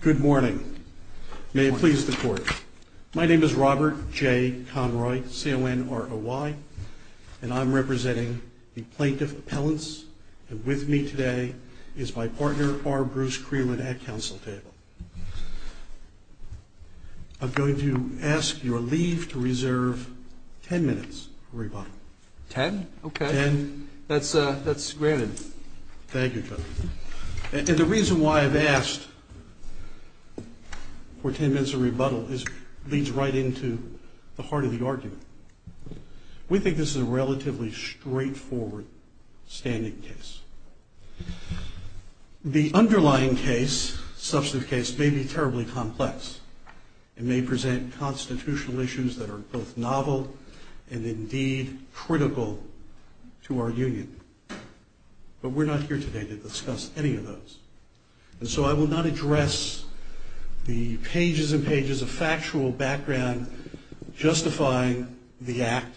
Good morning. May it please the Court. My name is Robert J. Conroy, C-O-N-R-O-Y, and I'm representing the Plaintiff Appellants, and with me today is my partner, R. Bruce Creeland, at counsel table. I'm going to ask your leave to reserve ten minutes for rebuttal. Ten? Okay. That's granted. Thank you, Judge. And the reason why I've asked for ten minutes of rebuttal is it leads right into the heart of the argument. We think this is a relatively straightforward standing case. The underlying case, substantive case, may be terribly complex. It may present constitutional issues that are both novel and, indeed, critical to our union. But we're not here today to discuss any of those. And so I will not address the pages and pages of factual background justifying the act,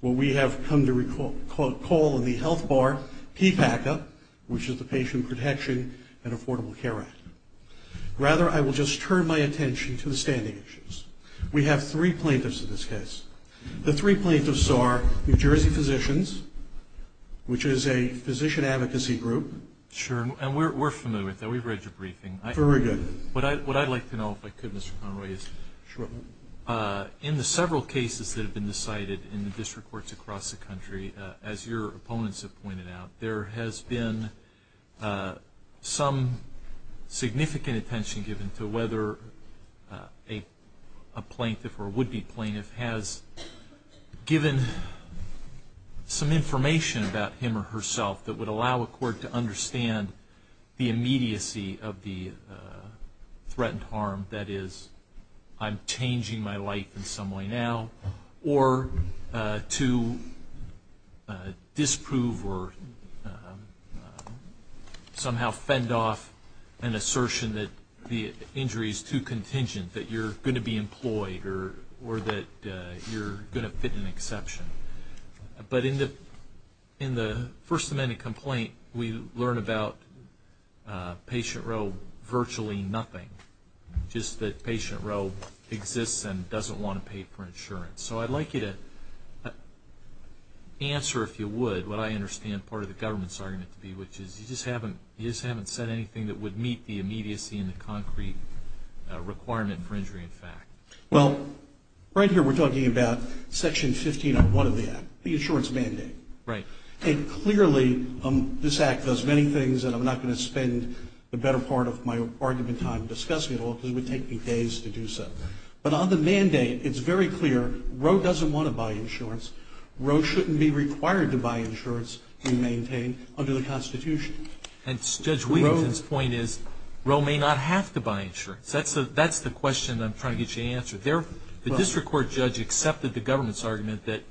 what we have come to call in the health bar, PPACA, which is the Patient Protection and Affordable Care Act. Rather, I will just turn my attention to the standing issues. We have three plaintiffs in this case. The three plaintiffs are New Jersey Physicians, which is a physician advocacy group. Sure. And we're familiar with that. We've read your briefing. Very good. What I'd like to know, if I could, Mr. Conroy, is in the several cases that have been decided in the district courts across the country, as your opponents have pointed out, there has been some significant attention given to whether a plaintiff or would-be plaintiff has given some information about him or herself that would allow a court to understand the immediacy of the threatened harm, that is, I'm changing my life in some way now, or to disprove or somehow fend off an assertion that the injury is too contingent, that you're going to be employed or that you're going to fit an exception. But in the First Amendment complaint, we learn about patient realm virtually nothing, just that patient realm exists and So I'd like you to answer, if you would, what I understand part of the government's argument to be, which is you just haven't said anything that would meet the immediacy and the concrete requirement for injury in fact. Well, right here we're talking about Section 1501 of the Act, the insurance mandate. Right. And clearly, this Act does many things and I'm not going to spend the better part of my argument time discussing it all because it would take me days to do so. But on the mandate, it's very clear, Roe doesn't want to buy insurance. Roe shouldn't be required to buy insurance we maintain under the Constitution. And Judge Wheelington's point is Roe may not have to buy insurance. That's the question I'm trying to get you to answer. The district court judge accepted the government's argument that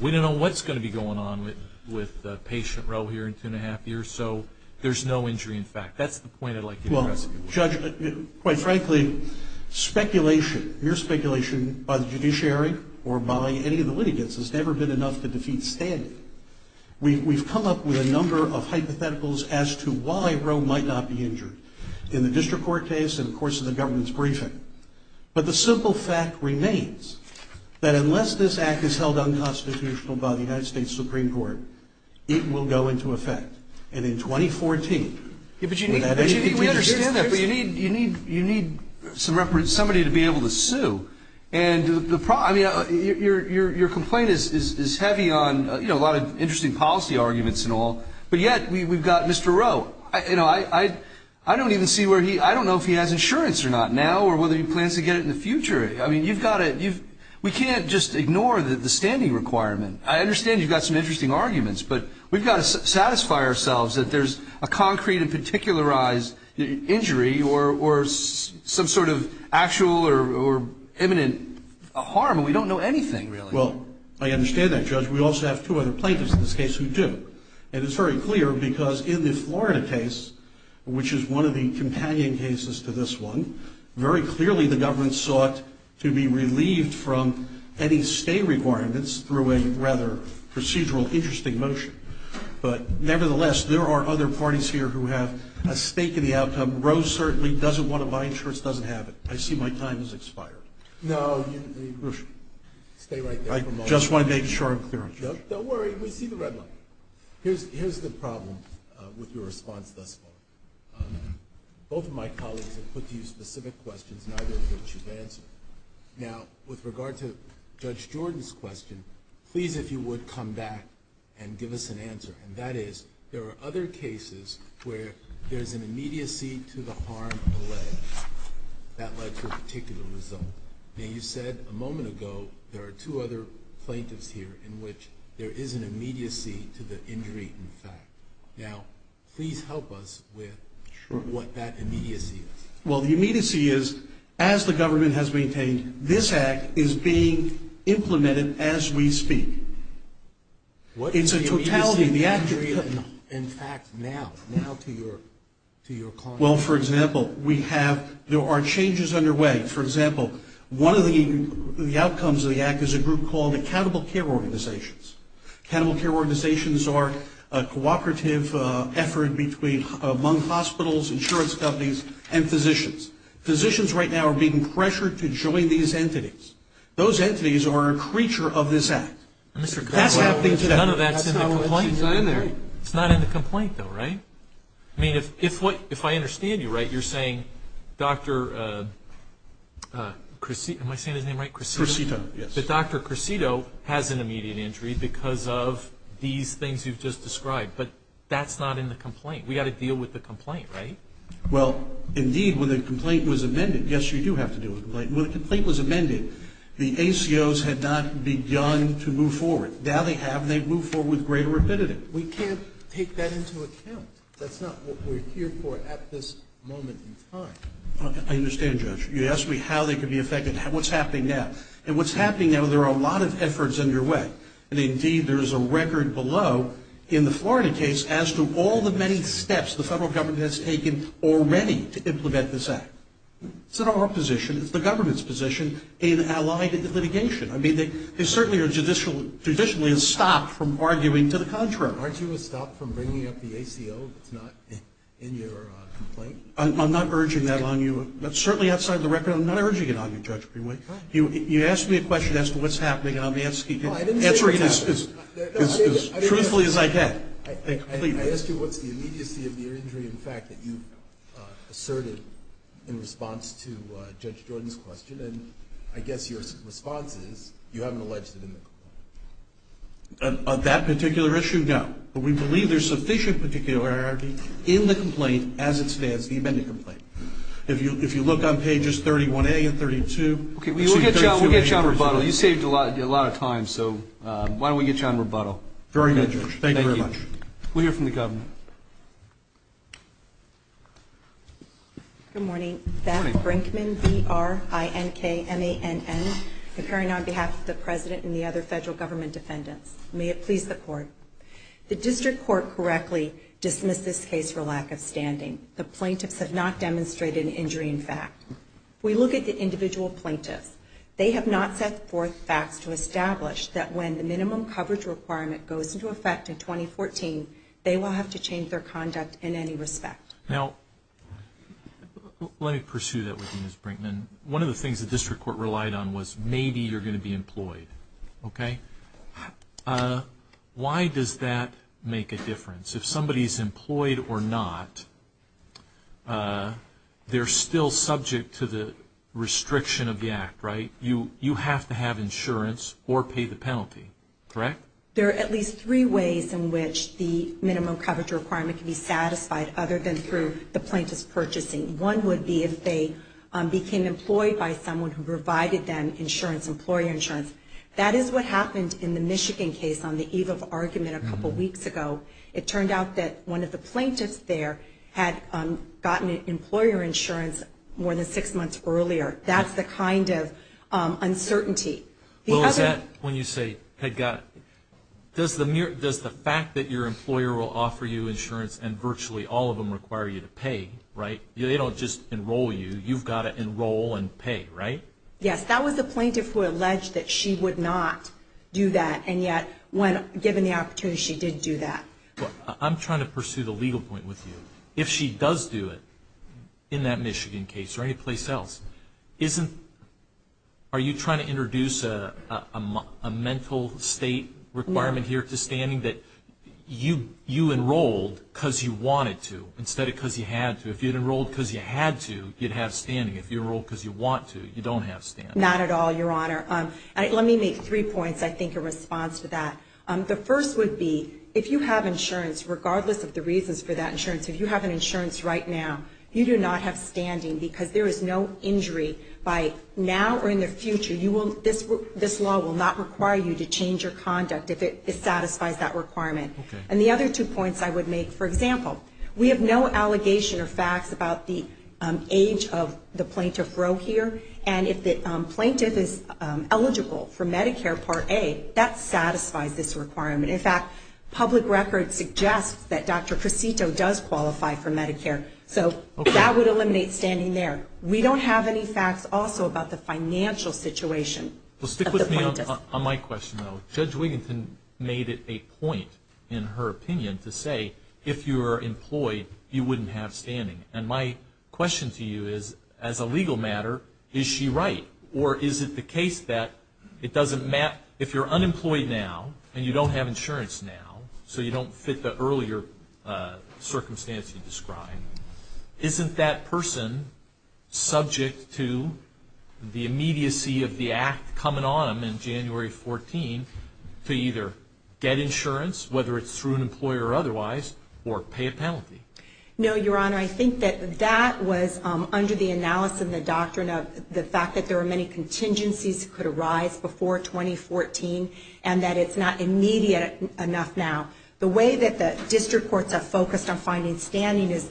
we don't know what's going to be going on with patient Roe here in two and a half years, so there's no injury in fact. That's the point I'd like you to address. Well, Judge, quite frankly, speculation, mere speculation by the judiciary or by any of the litigants has never been enough to defeat standing. We've come up with a number of hypotheticals as to why Roe might not be injured in the district court case and of course in the government's briefing. But the simple fact remains that unless this Act is held unconstitutional by the United States Supreme Court, it will go into effect. And in 2014, without any you need somebody to be able to sue. And your complaint is heavy on a lot of interesting policy arguments and all, but yet we've got Mr. Roe. I don't even see where he, I don't know if he has insurance or not now or whether he plans to get it in the future. I mean, you've got to, we can't just ignore the standing requirement. I understand you've got some interesting arguments, but we've got to satisfy ourselves that there's a concrete and particularized injury or some sort of actual or imminent harm and we don't know anything really. Well, I understand that, Judge. We also have two other plaintiffs in this case who do. And it's very clear because in the Florida case, which is one of the companion cases to this one, very clearly the government sought to be relieved from any stay requirements through a rather procedural interesting motion. But nevertheless, there are other parties here who have a stake in the outcome. Roe certainly doesn't want to buy insurance, doesn't have it. I see my time has expired. No, you, stay right there for a moment. I just want to make sure I'm clear on that. Don't worry, we see the red light. Here's the problem with your response thus far. Both of my colleagues have put to you specific questions, neither of which you've answered. Now, with regard to Judge Jordan's question, please if you would come back and give us an answer. And that is, there are other cases where there's an immediacy to the harm allay that led to a particular result. Now, you said a moment ago there are two other plaintiffs here in which there is an immediacy to the injury, in fact. Now, please help us with what that immediacy is. Well, the immediacy is, as the It's a totality of the act. In fact, now, now to your, to your comment. Well, for example, we have, there are changes underway. For example, one of the outcomes of the act is a group called Accountable Care Organizations. Accountable Care Organizations are a cooperative effort between, among hospitals, insurance companies, and physicians. Physicians right now are being pressured to join these entities. Those entities are a creature of this act. Mr. Conway. That's not in the complaint though, right? I mean, if, if what, if I understand you right, you're saying Dr. Crecito, am I saying his name right? Crecito, yes. That Dr. Crecito has an immediate injury because of these things you've just described. But that's not in the complaint. We've got to deal with the complaint, right? Well, indeed, when the complaint was amended, yes, you do have to deal with the complaint. When the complaint was amended, the ACOs had not begun to move forward. Now they have, and they've moved forward with greater rapidity. We can't take that into account. That's not what we're here for at this moment in time. I understand, Judge. You asked me how they could be affected, what's happening now. And what's happening now, there are a lot of efforts underway. And indeed, there is a record below in the Florida case as to all the many steps the federal government has taken already to implement this act. It's not our position, it's the government's position, in allied litigation. I mean, they certainly are judicially stopped from arguing to the contrary. Aren't you stopped from bringing up the ACO that's not in your complaint? I'm not urging that on you. But certainly outside the record, I'm not urging it on you, Judge Greenway. You asked me a question as to what's happening, and I'm answering it as truthfully as I can. I asked you what's the immediacy of your injury, in fact, that you asserted in response to Judge Jordan's question. And I guess your response is, you haven't alleged it in the complaint. On that particular issue, no. But we believe there's sufficient particularity in the complaint as it stands, the amended complaint. If you look on pages 31A and 32. We'll get you on rebuttal. You saved a lot of time, so why don't we get you on rebuttal. Very good, Judge. Thank you very much. We'll hear from the government. Good morning. Beth Brinkman, B-R-I-N-K-M-A-N-N, appearing on behalf of the President and the other federal government defendants. May it please the Court. The District Court correctly dismissed this case for lack of standing. The plaintiffs have not demonstrated an injury, in fact. We look at the individual plaintiffs. They have not set forth facts to establish that when the minimum coverage requirement goes into effect in 2014, they will have to change their conduct in any respect. Now, let me pursue that with you, Ms. Brinkman. One of the things the District Court relied on was, maybe you're going to be employed. Okay? Why does that make a difference? If somebody's employed or not, they're still subject to the restriction of the Act, right? You have to have insurance or pay the penalty, correct? There are at least three ways in which the minimum coverage requirement can be satisfied other than through the plaintiff's purchasing. One would be if they became employed by someone who provided them insurance, employer insurance. That is what happened in the Michigan case on the eve of argument a couple weeks ago. It turned out that one of the plaintiffs there had gotten employer insurance more than six months earlier. That's the kind of uncertainty. Well, is that when you say had gotten? Does the fact that your employer will offer you insurance and virtually all of them require you to pay, right? They don't just enroll you. You've got to enroll and pay, right? Yes. That was the plaintiff who alleged that she would not do that. And yet, given the opportunity, she did do that. I'm trying to pursue the legal point with you. If she does do it in that Michigan case or any place else, are you trying to introduce a mental state requirement here to standing that you enrolled because you wanted to instead of because you had to? If you had enrolled because you had to, you'd have standing. If you enrolled because you want to, you don't have standing. Not at all, Your Honor. Let me make three points, I think, in response to that. The first would be if you have insurance, regardless of the reasons for that insurance, if you have an insurance right now, you do not have standing because there is no injury by now or in the future. This law will not require you to change your conduct if it satisfies that requirement. Okay. And the other two points I would make, for example, we have no allegation or facts about the age of the plaintiff Roe here. And if the plaintiff is eligible for Medicare Part A, that satisfies this requirement. In fact, public record suggests that Dr. Cresito does qualify for Medicare. Okay. So that would eliminate standing there. We don't have any facts also about the financial situation of the plaintiff. Well, stick with me on my question, though. Judge Wiginton made it a point, in her opinion, to say if you were employed, you wouldn't have standing. And my question to you is, as a legal matter, is she right? Or is it the case that it doesn't matter? If you're employed, you're not going to have standing. And so, in that circumstance you described, isn't that person subject to the immediacy of the act coming on them in January 14 to either get insurance, whether it's through an employer or otherwise, or pay a penalty? No, Your Honor. I think that that was under the analysis and the doctrine of the fact that there were many contingencies that could arise before 2014 and that it's not immediate enough now. The way that the district courts have focused on finding standing is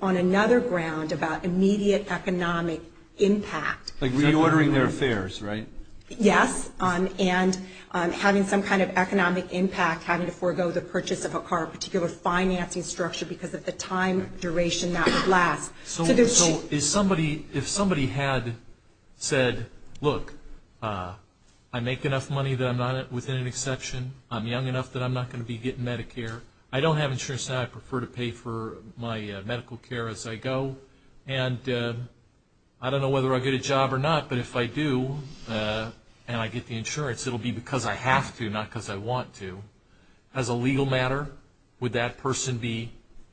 on another ground about immediate economic impact. Like reordering their fares, right? Yes. And having some kind of economic impact, having to forego the purchase of a car, a particular financing structure because of the time duration that would last. So if somebody had said, look, I make enough money that I'm not within an exception, I'm young enough that I'm not going to be getting Medicare, I don't have insurance now, I prefer to pay for my medical care as I go, and I don't know whether I get a job or not, but if I do and I get the insurance, it'll be because I have to, not because I want to. As a legal matter, would that person be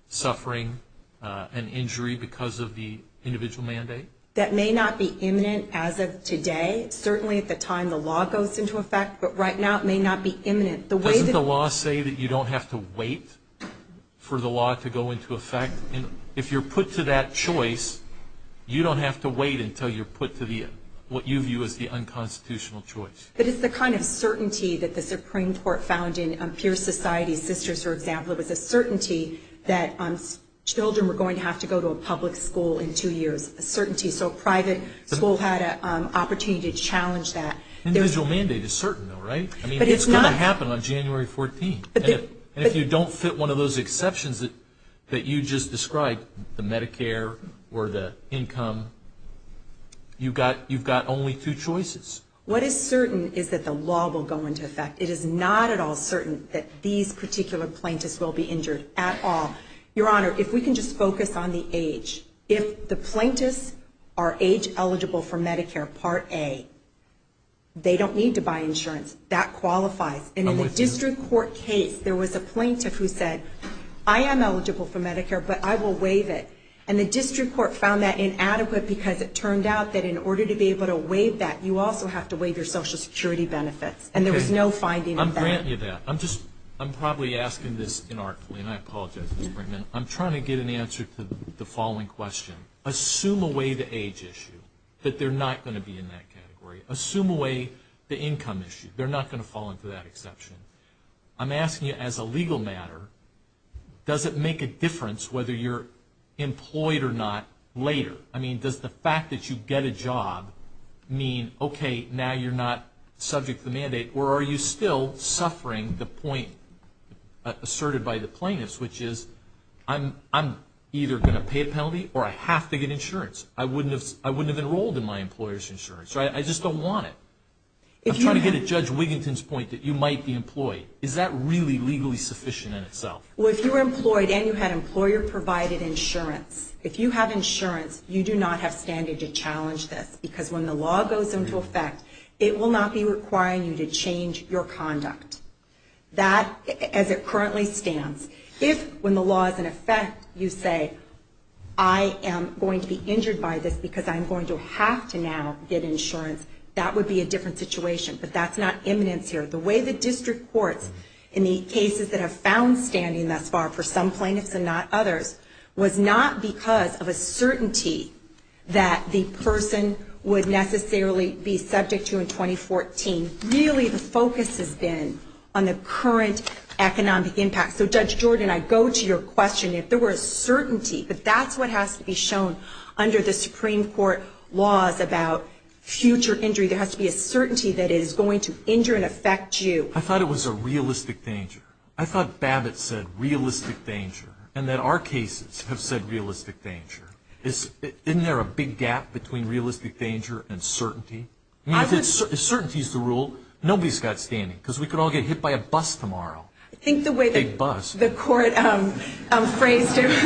suffering an injury because of the individual mandate? That may not be imminent as of today. Certainly at the time the law goes into effect, but right now it may not be imminent. Doesn't the law say that you don't have to wait for the law to go into effect? If you're put to that choice, you don't have to wait until you're put to the, what you view as the unconstitutional choice. But it's the kind of certainty that the Supreme Court found in Peer Society Sisters, for example, it was a certainty that children were going to have to go to a public school in two years, a certainty. So a private school had an opportunity to challenge that. Individual mandate is certain though, right? It's going to happen on January 14th. And if you don't fit one of those exceptions that you just described, the Medicare or the income, you've got only two choices. What is certain is that the law will go into effect. It is not at all certain that these particular plaintiffs will be injured at all. Your Honor, if we can just focus on the age. If the plaintiffs are age eligible for Medicare Part A, they don't need to buy insurance. That qualifies. And in the district court case, there was a plaintiff who said, I am eligible for Medicare, but I will waive it. And the district court found that inadequate because it turned out that in order to be able to waive that, you also have to waive your Social Security benefits. And there was no finding of that. I'm granting you that. I'm just, I'm probably asking this inarticulately. And I apologize, Ms. Brinkman. I'm trying to get an answer to the following question. Assume away the age issue. That they're not going to be in that category. Assume away the income issue. They're not going to fall into that exception. I'm asking you as a legal matter, does it make a difference whether you're employed or not later? I mean, does the fact that you get a job mean, okay, now you're not subject to the mandate? Or are you still suffering the point asserted by the plaintiffs, which is, I'm either going to pay a penalty, or I have to get insurance. I wouldn't have enrolled in my employer's insurance. I just don't want it. I'm trying to get at Judge Wiginton's point that you might be employed. Is that really legally sufficient in itself? Well, if you were employed and you had employer-provided insurance, if you have insurance, you do not have standard to challenge this. Because when the law goes into effect, it will not be requiring you to change your conduct. That, as it currently stands. If, when the law is in effect, you say, I am going to be injured by this because I'm going to have to now get insurance, that would be a different situation. But that's not imminence here. The way the district courts, in the cases that have found standing thus far, for some plaintiffs and not others, was not because of a certainty that the person would necessarily be subject to in 2014. Really, the focus has been on the current economic impact. Judge Jordan, I go to your question. If there were a certainty, but that's what has to be shown under the Supreme Court laws about future injury. There has to be a certainty that it is going to injure and affect you. I thought it was a realistic danger. I thought Babbitt said realistic danger and that our cases have said realistic danger. Isn't there a big gap between realistic danger and certainty? If certainty is the rule, nobody's got standing because we could all get hit by a bus tomorrow. That's not what the court phrased. It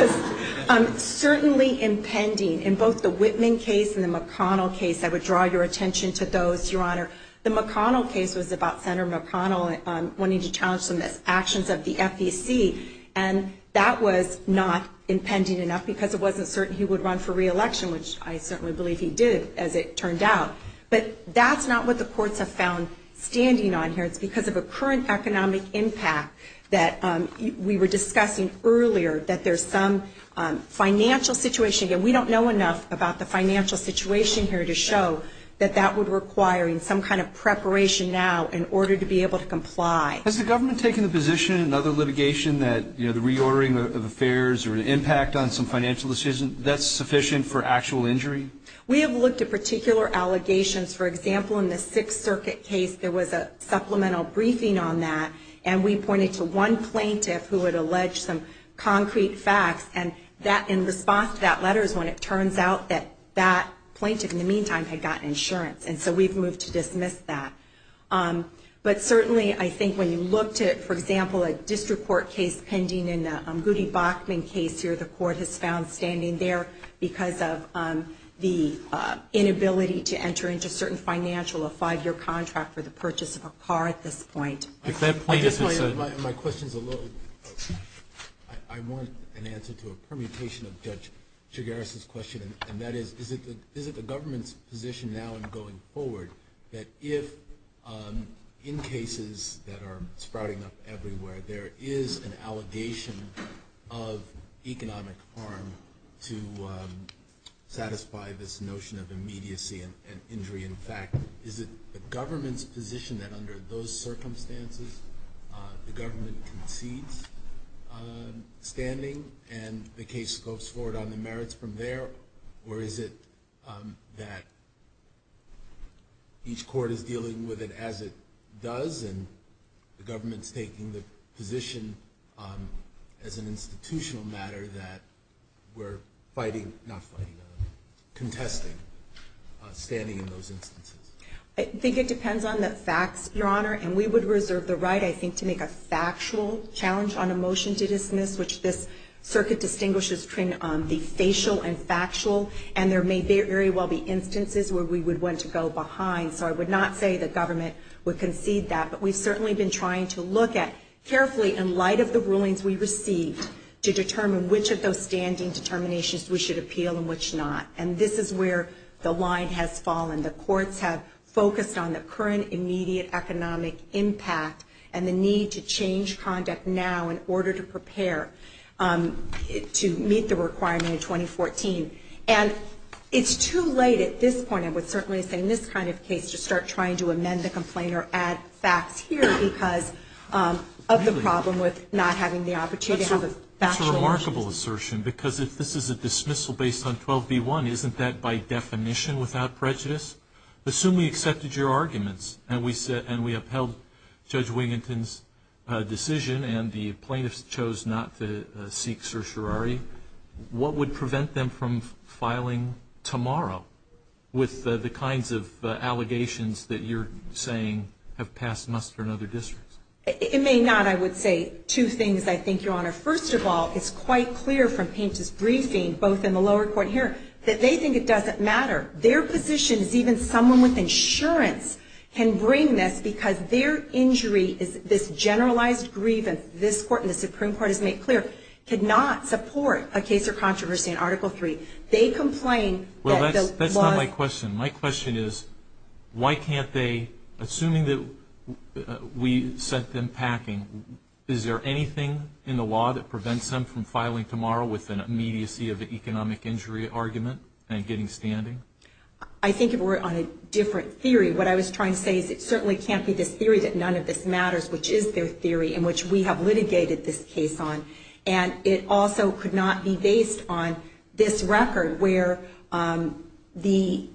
was certainly impending in both the Whitman case and the McConnell case. I would draw your attention to those, Your Honor. The McConnell case was about Senator McConnell wanting to challenge some of the actions of the FEC. And that was not impending enough because it wasn't certain he would run for re-election, which I certainly believe he did, as it turned out. But that's not what the courts have found standing on here. It's because of a current economic impact that we were discussing earlier that there's some financial situation. And we don't know enough about the financial situation here to show that that would require some kind of preparation now in order to be able to comply. Has the government taken the position in other litigation that the reordering of affairs or an impact on some financial decision, that's sufficient for actual injury? We have looked at particular allegations. For example, in the Sixth Circuit case, there was a supplemental briefing on that. And it came to one plaintiff who had alleged some concrete facts. And in response to that letter is when it turns out that that plaintiff, in the meantime, had gotten insurance. And so we've moved to dismiss that. But certainly, I think, when you look to, for example, a district court case pending in the Goody Bachman case here, the court has found standing there because of the inability to enter into certain financial or five-year contract for the purchase of a car at this point. My question is a little... I want an answer to a permutation of Judge Chigares' question. And that is, is it the government's position now in going forward that if in cases that are sprouting up everywhere, there is an allegation of economic harm to satisfy this notion of immediacy and injury. In fact, is it the government's position that under those circumstances the government concedes standing and the case goes forward on the merits from there? Or is it that each court is dealing with it as it does and the government's taking the position as an institutional matter that we're fighting, not fighting, but contesting standing in those instances? I think it depends on the facts, Your Honor, and we would reserve the right, I think, to make a factual challenge on a motion to dismiss which this circuit distinguishes between the facial and factual and there may very well be instances where we would want to go behind. So I would not say that the government would concede that, but we've certainly been trying to look at carefully in light of the rulings we received to determine which of those standing determinations we should appeal and which not. And this is where the line has fallen. The courts have focused on the current immediate economic impact and the need to change conduct now in order to prepare to meet the requirement in 2014. And it's too late at this point, I would certainly say, in this kind of case, to start trying to amend the complaint or add facts here because of the problem with not having the opportunity to have a factual motion. That's a remarkable assertion because if this is a dismissal based on 12b-1, isn't that by definition without prejudice? Assume we accepted your arguments and we upheld Judge Wiginton's decision and the plaintiffs chose not to seek certiorari, what would prevent them from filing tomorrow with the kinds of allegations that you're saying have passed muster in other districts? It may not, I would say. Two things, I think, Your Honor. First of all, it's quite clear from Paint's briefing, both in the lower court and here, that they think it doesn't matter. Their position is even someone with insurance can bring this because their injury is this generalized grievance this court and the Supreme Court has made clear cannot support a case or controversy in Article III. They complain Well, that's not my question. My question is why can't they, assuming that we sent them packing, is there anything in the law that prevents them from filing tomorrow with an immediacy of an economic injury argument and getting standing? I think if we're on a different theory, what I was trying to say is it certainly can't be this theory that none of this matters which is their theory in which we have litigated this case on and it also could not be based on this record where the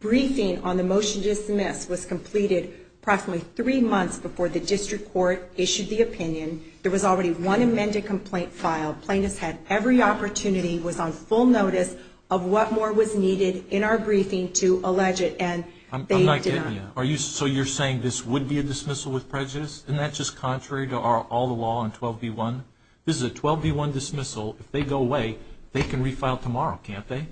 briefing on the motion to dismiss was completed approximately three months before the district court issued the opinion. There was already one amended complaint filed. Plaintiffs had every opportunity was on full notice of what more was needed in our briefing to allege it and they did not. I'm not getting you. So you're saying this would be a dismissal with prejudice? Isn't that just contrary to all the law on 12B1? This is a 12B1 dismissal. If they go away they can refile tomorrow, can't they?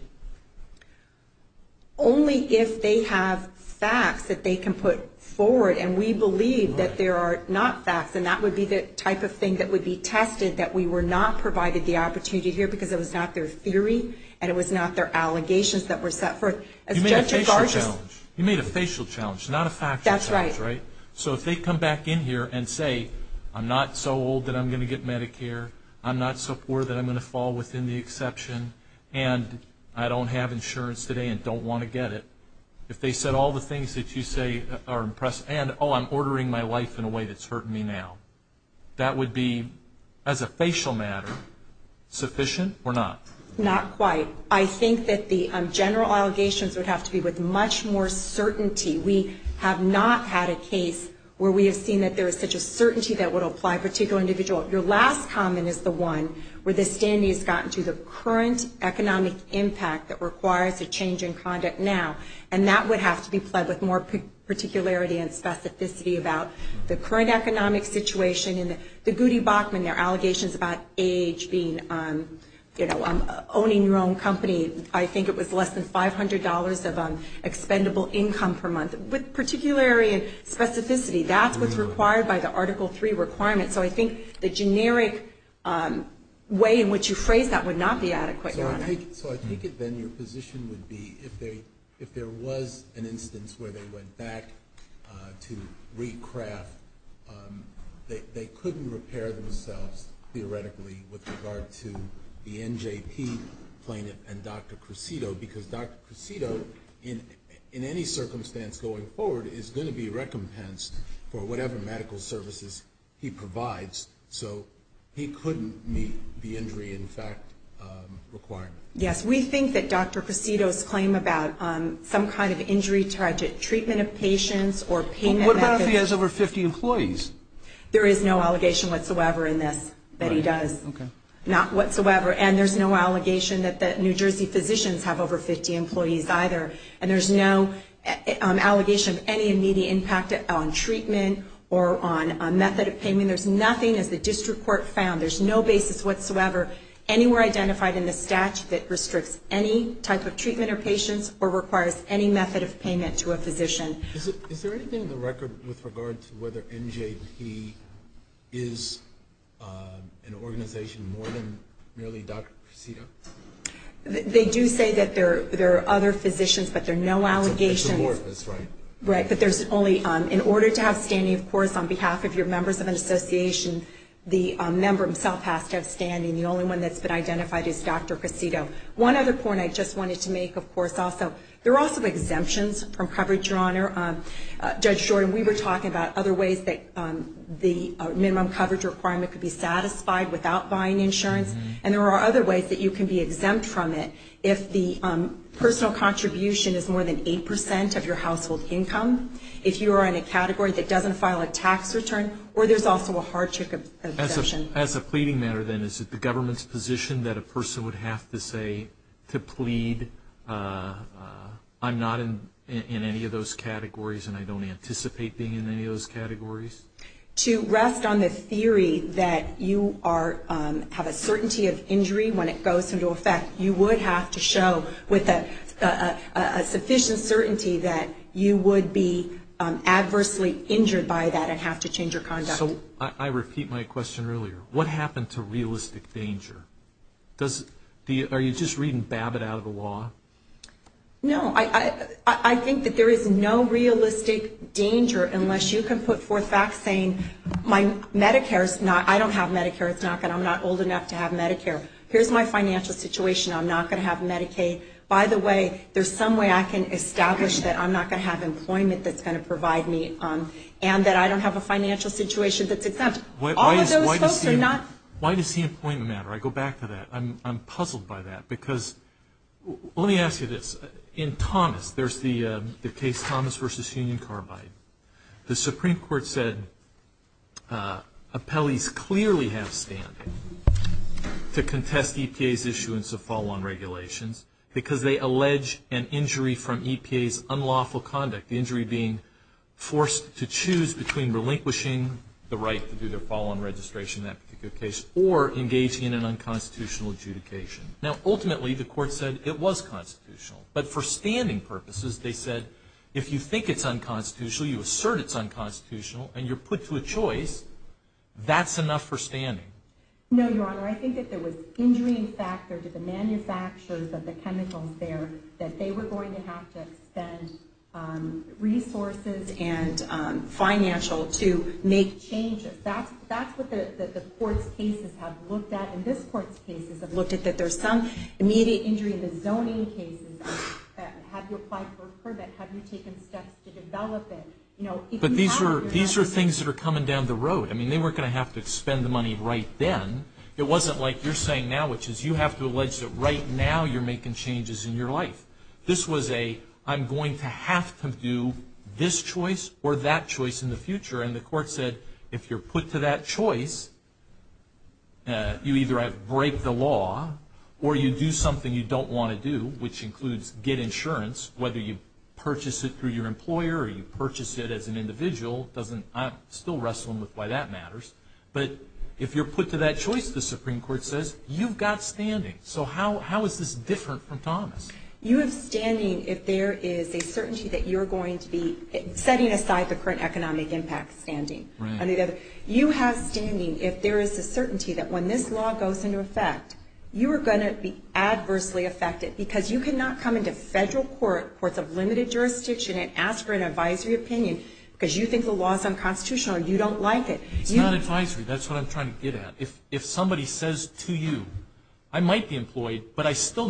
Only if they have facts that they can put forward and we believe that there are not facts and that would be the type of thing that would be tested that we were not provided the opportunity to hear because it was not their theory and it was not their allegations that were set forth. You made a facial challenge not a factual challenge. That's right. So if they come back in here and say I'm not so old that I'm going to get Medicare, I'm not so poor that I'm going to fall within the exception and I don't have insurance today and don't want to get it. If they said all the things that you say are impressive and I'm ordering my life in a way that's hurting me now that would be as a facial matter sufficient or not? Not quite. I think that the general allegations would have to be with much more certainty. We have not had a case where we have seen that there is such a certainty that would apply to a particular individual. Your last comment is the one where the standing has gotten to the current economic impact that requires a change in conduct now and that would have to be pledged with more particularity and specificity about the current economic situation and the Goody Bachman their allegations about age being, owning your own company. I think it was less than $500 of expendable income per month with particularity and specificity that's what's required by the Article 3 requirement so I think the generic way in which you phrase that would not be adequate Your Honor. So I take it then your position would be if there was an instance where they went back to recraft they couldn't repair themselves theoretically with regard to the NJP plaintiff and doctor Crecedo because doctor Crecedo in any circumstance going forward is going to be recompensed for whatever medical services he provides so he couldn't meet the injury in fact requirement. Yes. We think that doctor Crecedo's claim about some kind of injury treatment of patients or payment What about if he has over 50 employees? There is no allegation whatsoever in this that he does not whatsoever and there is no allegation that New Jersey physicians have over 50 employees either and there is no allegation of any immediate impact on treatment or on method of payment there is nothing as the district court found there is no basis whatsoever anywhere identified in the statute that restricts any type of treatment of patients or requires any method of payment to a physician Is there anything in the record with regard to whether NJP is an organization more than merely doctor Crecedo? They do say that there are other physicians but there are no exemptions from coverage your honor Judge Jordan we were talking about other ways that the minimum coverage requirement could be satisfied without buying insurance and there are other ways that you can be exempt from it if the personal contribution is more than 8% of your household income if you are in a category that doesn't file a tax return or there's also a hardship exemption As a pleading matter then is it the government's position that a person would have to say to plead I'm not in any of those categories and I don't anticipate being in any of those categories To rest on the theory that you have a certainty of injury when it goes into effect you would have to show with a sufficient certainty that you would be adversely injured by that and I think that there is no realistic danger unless you can put forth facts saying my Medicare is not I don't have Medicare I'm not old enough to have Medicare here's my financial situation I'm not going to have Medicaid by the way there's some way I can establish that I'm not going to have employment that's going to provide me and that I don't have a financial situation Why does the employment matter? I go back to that I'm puzzled by that because let me ask you this in Thomas there's the case Thomas versus Union Carbide the Supreme Court said that appellees clearly have standing to contest EPA's issuance of follow-on regulations because they allege an injury from EPA's unlawful conduct the injury being forced to choose between relinquishing the right to do their follow-on registration in that particular case or engaging in unconstitutional adjudication now ultimately the court said it was constitutional but for standing purposes they said if you think it's unconstitutional you assert it's unconstitutional and you're put to a choice that's enough for standing No, Your Honor I think if there was injuring factors that were going to have to extend resources and financial to make changes that's what the court's cases have looked at and this court's cases have looked at that there's some immediate injury in the zoning cases have you taken steps to develop it but these are things that are coming down the road they weren't going to have to spend the money right then it wasn't like you're saying now which is you have to allege that right now you're making changes in your life this was a I'm going to have to do this at you have to make a choice in the future the court said if you're put to that choice you either have to break the law or do something you don't want to do get insurance whether you purchase it through your employer or you purchase it as an individual I'm still wrestling with why that matters but if you're put to that choice the Supreme Court says you've got standing so how is this different from Thomas you have standing if there is a certainty that you have a chance to get insurance you have to break the you don't want to do insurance you don't want to get insurance you don't have a chance to get insurance you don't want to do insurance you don't chance to get insurance you don't have a chance to get insurance you have to break the you don't have to the you don't have a chance to get insurance you don't have a chance to break the you don't have a chance to get insurance you chance to break the you don't have insurance you don't have a chance to break the you don't have insurance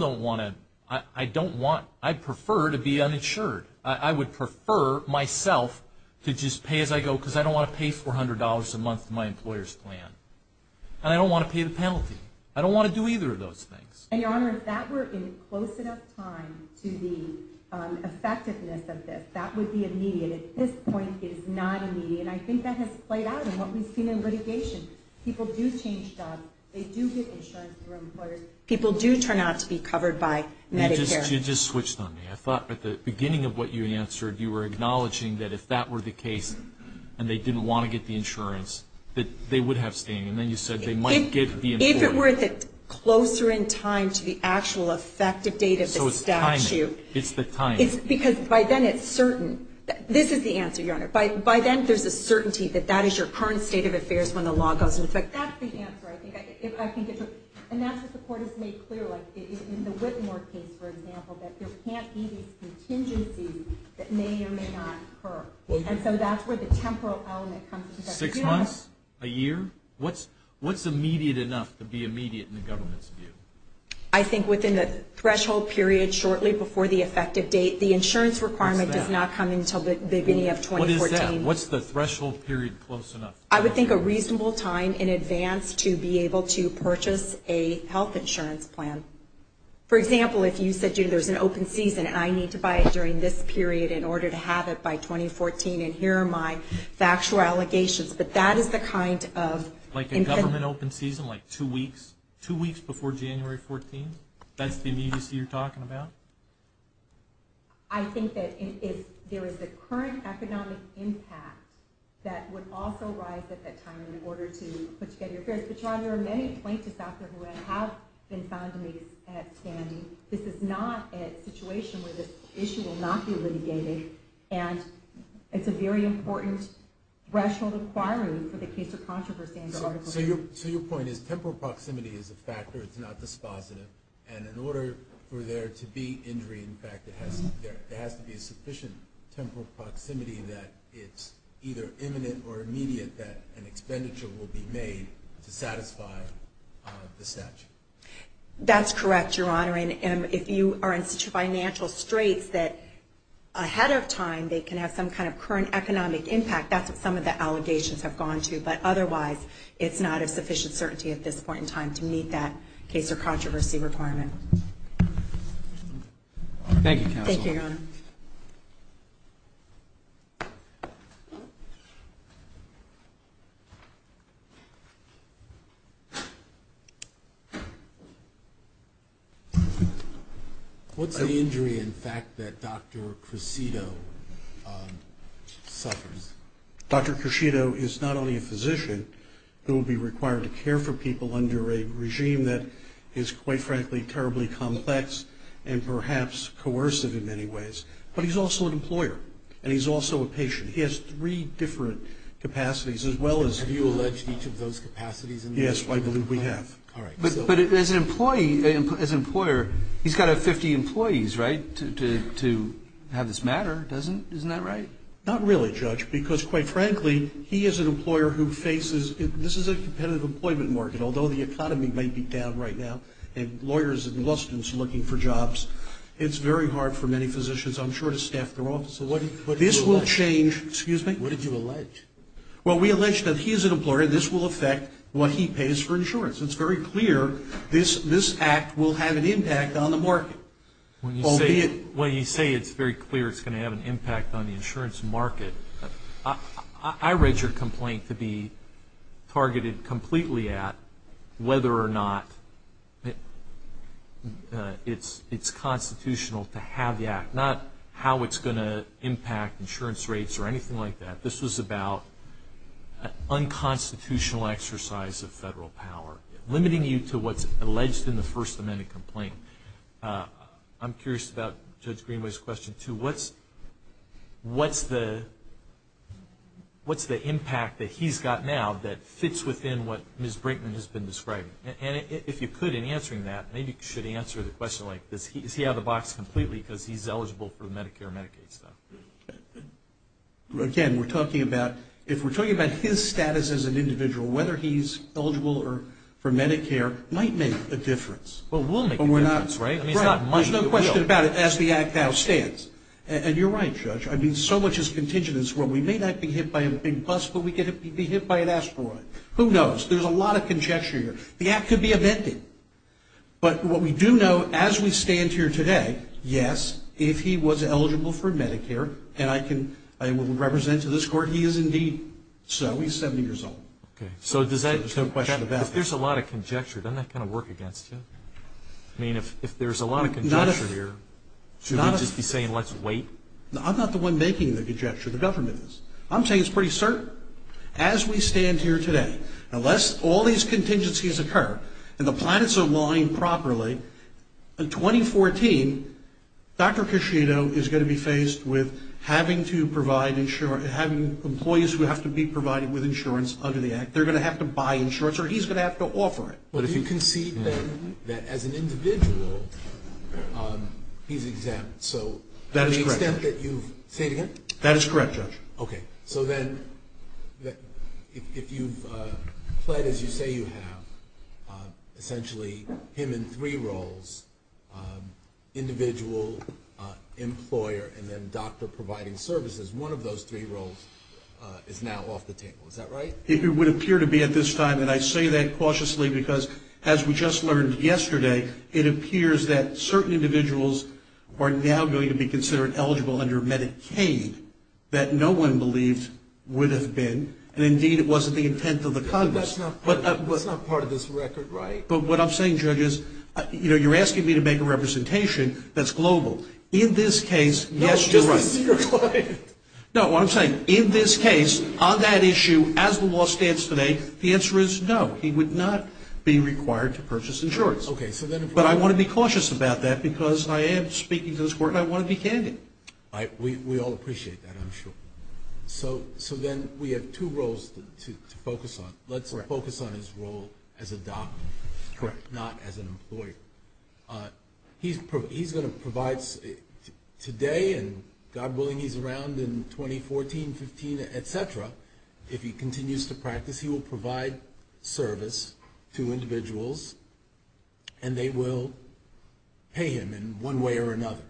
you they were talking about. And that was that was quite a heart breaking out again. It hasn't been sufficiently temporary proximity that it's either imminent or immediate that an expenditure will be made to satisfy the statute. That's correct you're honoring, and if you are in such a financial straits that ahead of time to pay for it. Thank you. What's the injury in fact that Dr. Crescido suffers? Dr. Crescido is not only a physician who will be required to care for people under a regime that is quite frankly terribly complex and perhaps coercive in many ways, but he's also an employer, and he's also a patient. He has three different capacities. Have you alleged each of those capacities? Yes, I believe we have. But as an employer, he's got to have 50 employees, right, to have this matter, isn't that right? Not really, Judge, because quite frankly, he is an employer who faces, this is a competitive employment market, although the economy may be down right now, and lawyers and law students are looking for jobs. It's very hard for many physicians, I'm sure, to staff their offices. This will change. What did you allege? Well, we allege that he is an employer, this will affect what he pays for insurance. It's very clear this act will have an impact on the market. When you say it's very clear it's going to have an impact on the insurance market, I read your complaint to be targeted completely at whether or not it's constitutional to have the act, not how it's going to impact insurance rates or anything like that. This was about unconstitutional exercise of federal power, limiting you to what's alleged in the First Amendment complaint. I'm curious about Judge Greenway's question, too. What's the impact that he's got now that fits within what Ms. Brinkman has been describing? If you could, in answering that, maybe you should answer the question like this. Is he out of the box completely because he's eligible for Medicare and Medicaid? Again, if we're talking about his status as an individual, whether he's eligible for Medicaid, there's so much contingence where we may not be hit by a big bus, but we could be hit by an asteroid. Who knows? There's a lot of conjecture here. The Act could be amended. But what we do know as we stand here today, yes, if he was eligible for Medicare and I can represent to this court, he is indeed so. He's 70 years old. There's no question about that. If there's a lot of conjecture, doesn't that kind of work against you? I mean, if there's a lot of conjecture here, should we just be saying let's wait? I'm not the one making the conjecture, the government is. I'm saying it's pretty certain. As we stand here today, unless all these contingencies occur and the planets align properly, in 2014 Dr. Cushito is going to be faced with having to provide employees who have to be eligible medical services. Say it again? That is correct, Judge. Okay. So then if you've played as you say you have, essentially him in three roles, individual employer and then doctor providing services, one of those three roles is now off the table. Is that correct? That's correct. But that's not part of this record, right? But what I'm saying, Judge, is you're asking me to make a representation that's global. In this case, yes, you're right. No, what I'm saying, is that in this case, on that issue, as the law stands today, the answer is no, he would not be required to purchase insurance. But I want to be cautious about that because I am speaking to this court and I want to be candid. We all appreciate that, I'm sure. So then we have two roles to focus on. Let's focus on his role as a doctor, not as an employer. He's going to provide today, and God willing he's around in 2014, 15, et cetera, if he continues to practice, he will provide service to individuals and they will pay him in one way or another.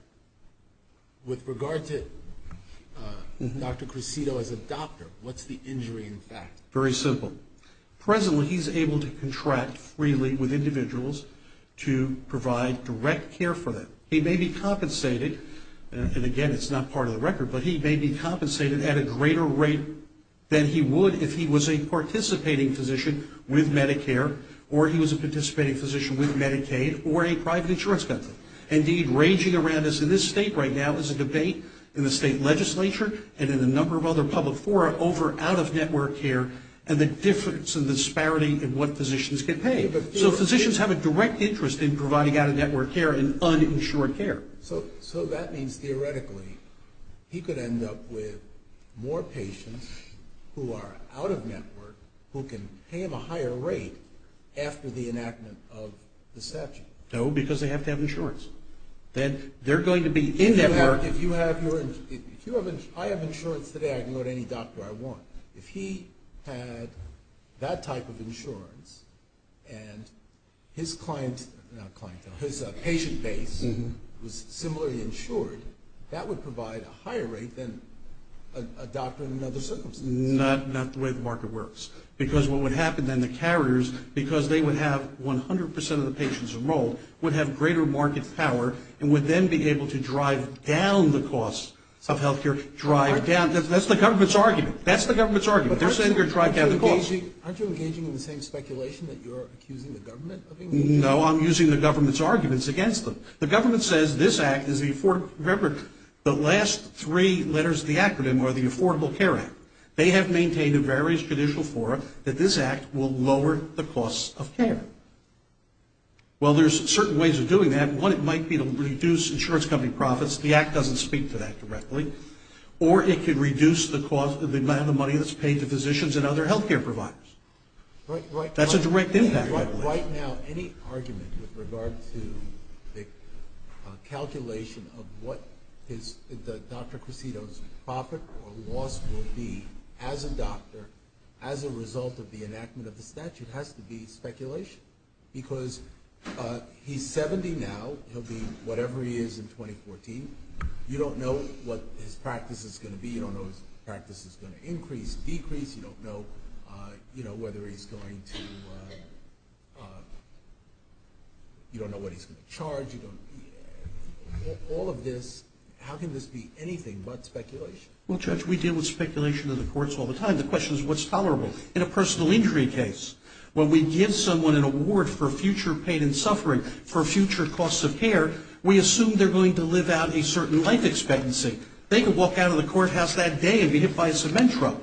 With regard to Dr. Crescido as a doctor, what's the injury in fact? Very simple. Presently he's able to contract freely with individuals to provide direct care for them. He may be compensated, and again it's not part of the record, but he may be compensated at a greater rate than he would if he was a participating physician with Medicare or he was a participating physician with Medicaid or a private insurance company. Indeed, raging around us in this state right now is a debate in the state legislature and in a number of other public fora over out-of-network care and the difference and disparity in what physicians can pay. So physicians have a direct interest in providing out-of- network care and uninsured care. So that means theoretically he could end up with more patients who are out-of- network who can pay him a higher rate after the enactment of the statute? No, because they have to have insurance. They're going to be in network. I have insurance today. I can go to any doctor I want. If he had that type of insurance and his patient base was similarly insured, that would provide a higher rate than a doctor in other circumstances. Not the way the market works. Because what would happen is the government would be able to drive down the cost of health care. That's the government's argument. They're saying they're driving down the cost. Aren't you engaging in the same speculation that you're accusing the government? No, I'm using the government's arguments against them. The government says this is the Affordable Care Act. They have maintained in various judicial fora that this act will lower the cost of care. Well, there's certain ways of doing that. One, it might be to reduce insurance company profits. The act doesn't speak to that directly. Or it could reduce the cost of the amount of money that's being spent on healthcare providers. That's a direct impact. Right now, any argument with regard to the calculation of what the doctor's profit or loss will be as a doctor as a result of the enactment of the statute has to be speculation. Because he's 70 now, he'll be whatever he is in court. You know, whether he's going to you don't know what he's going to charge. All of this, how can this be anything but speculation? Well, Judge, we deal with speculation in the courts all the time. The question is what's tolerable? In a personal injury case, when we give someone an award for future pain and suffering for future costs of care, we assume they're going to live out a certain life expectancy. They can walk out of the courthouse that day and be hit by a cement truck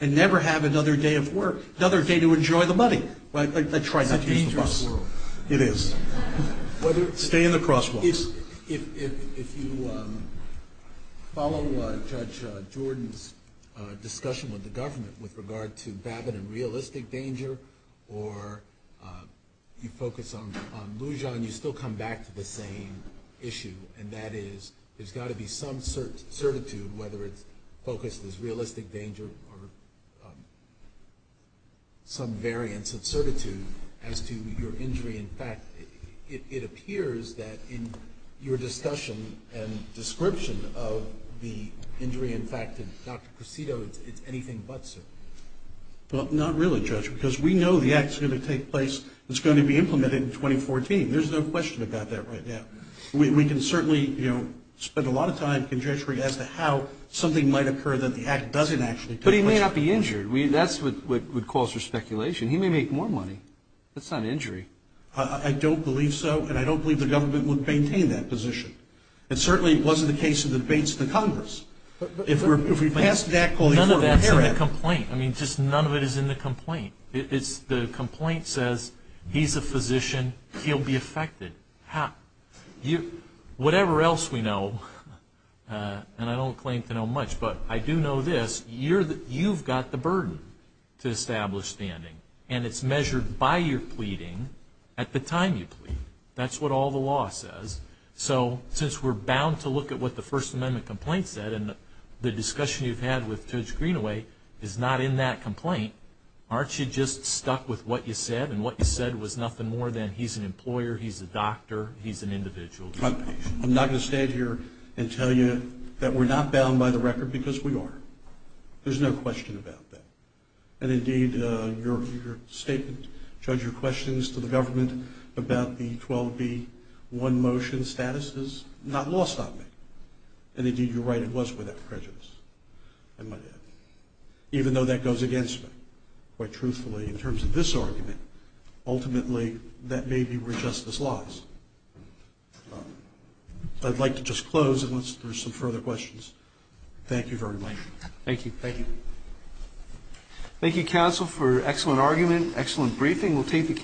and never have another day of work, enjoy the money. It's a dangerous world. It is. Stay in the crosswalks. If you follow Judge Jordan's discussion with the government with regard to Babbitt and realistic danger or you focus on Lujan, you still come back to the same issue, and that is there's got to be some certitude, whether it's focused as realistic danger or some variance of certitude as to your injury. In fact, it appears that in your discussion and description of the injury, in fact, to your concern, there's no question about that right now. We can certainly spend a lot of time conjecturing as to how something might occur that the act doesn't actually take place. But he may not be injured. That's what calls for speculation. He may make more money. That's not an injury. I don't believe so, and I don't that's the case of the debates of the Congress. None of that's in the complaint. None of it is in the complaint. The complaint says he's a physician, he'll be affected. Whatever else we know, and I don't claim to know much, but I do know this, you've got the burden to establish standing, and it's measured by your pleading at the time you plead. That's what all the law says. So since we're bound to look at what the First Amendment complaint said, and the discussion you've had with Judge Greenaway is not in that complaint, aren't you just stuck with what you said, and what you said was nothing more than he's an employer, he's a doctor, he's an individual? I'm not going to stand here and tell you that we're not bound by the record because we are. There's no question about that. And indeed, your statement, Judge, your questions to the government about the 12B one-motion status is not lost on me. And indeed, you're right, it was without prejudice. Even though that goes against me, quite truthfully, in terms of this argument, ultimately, that may be where justice lies. I'd like to just close unless there's some further questions. Thank you very much. Thank you. Thank you. Thank you, counsel, for an excellent argument. Excellent briefing. We'll take the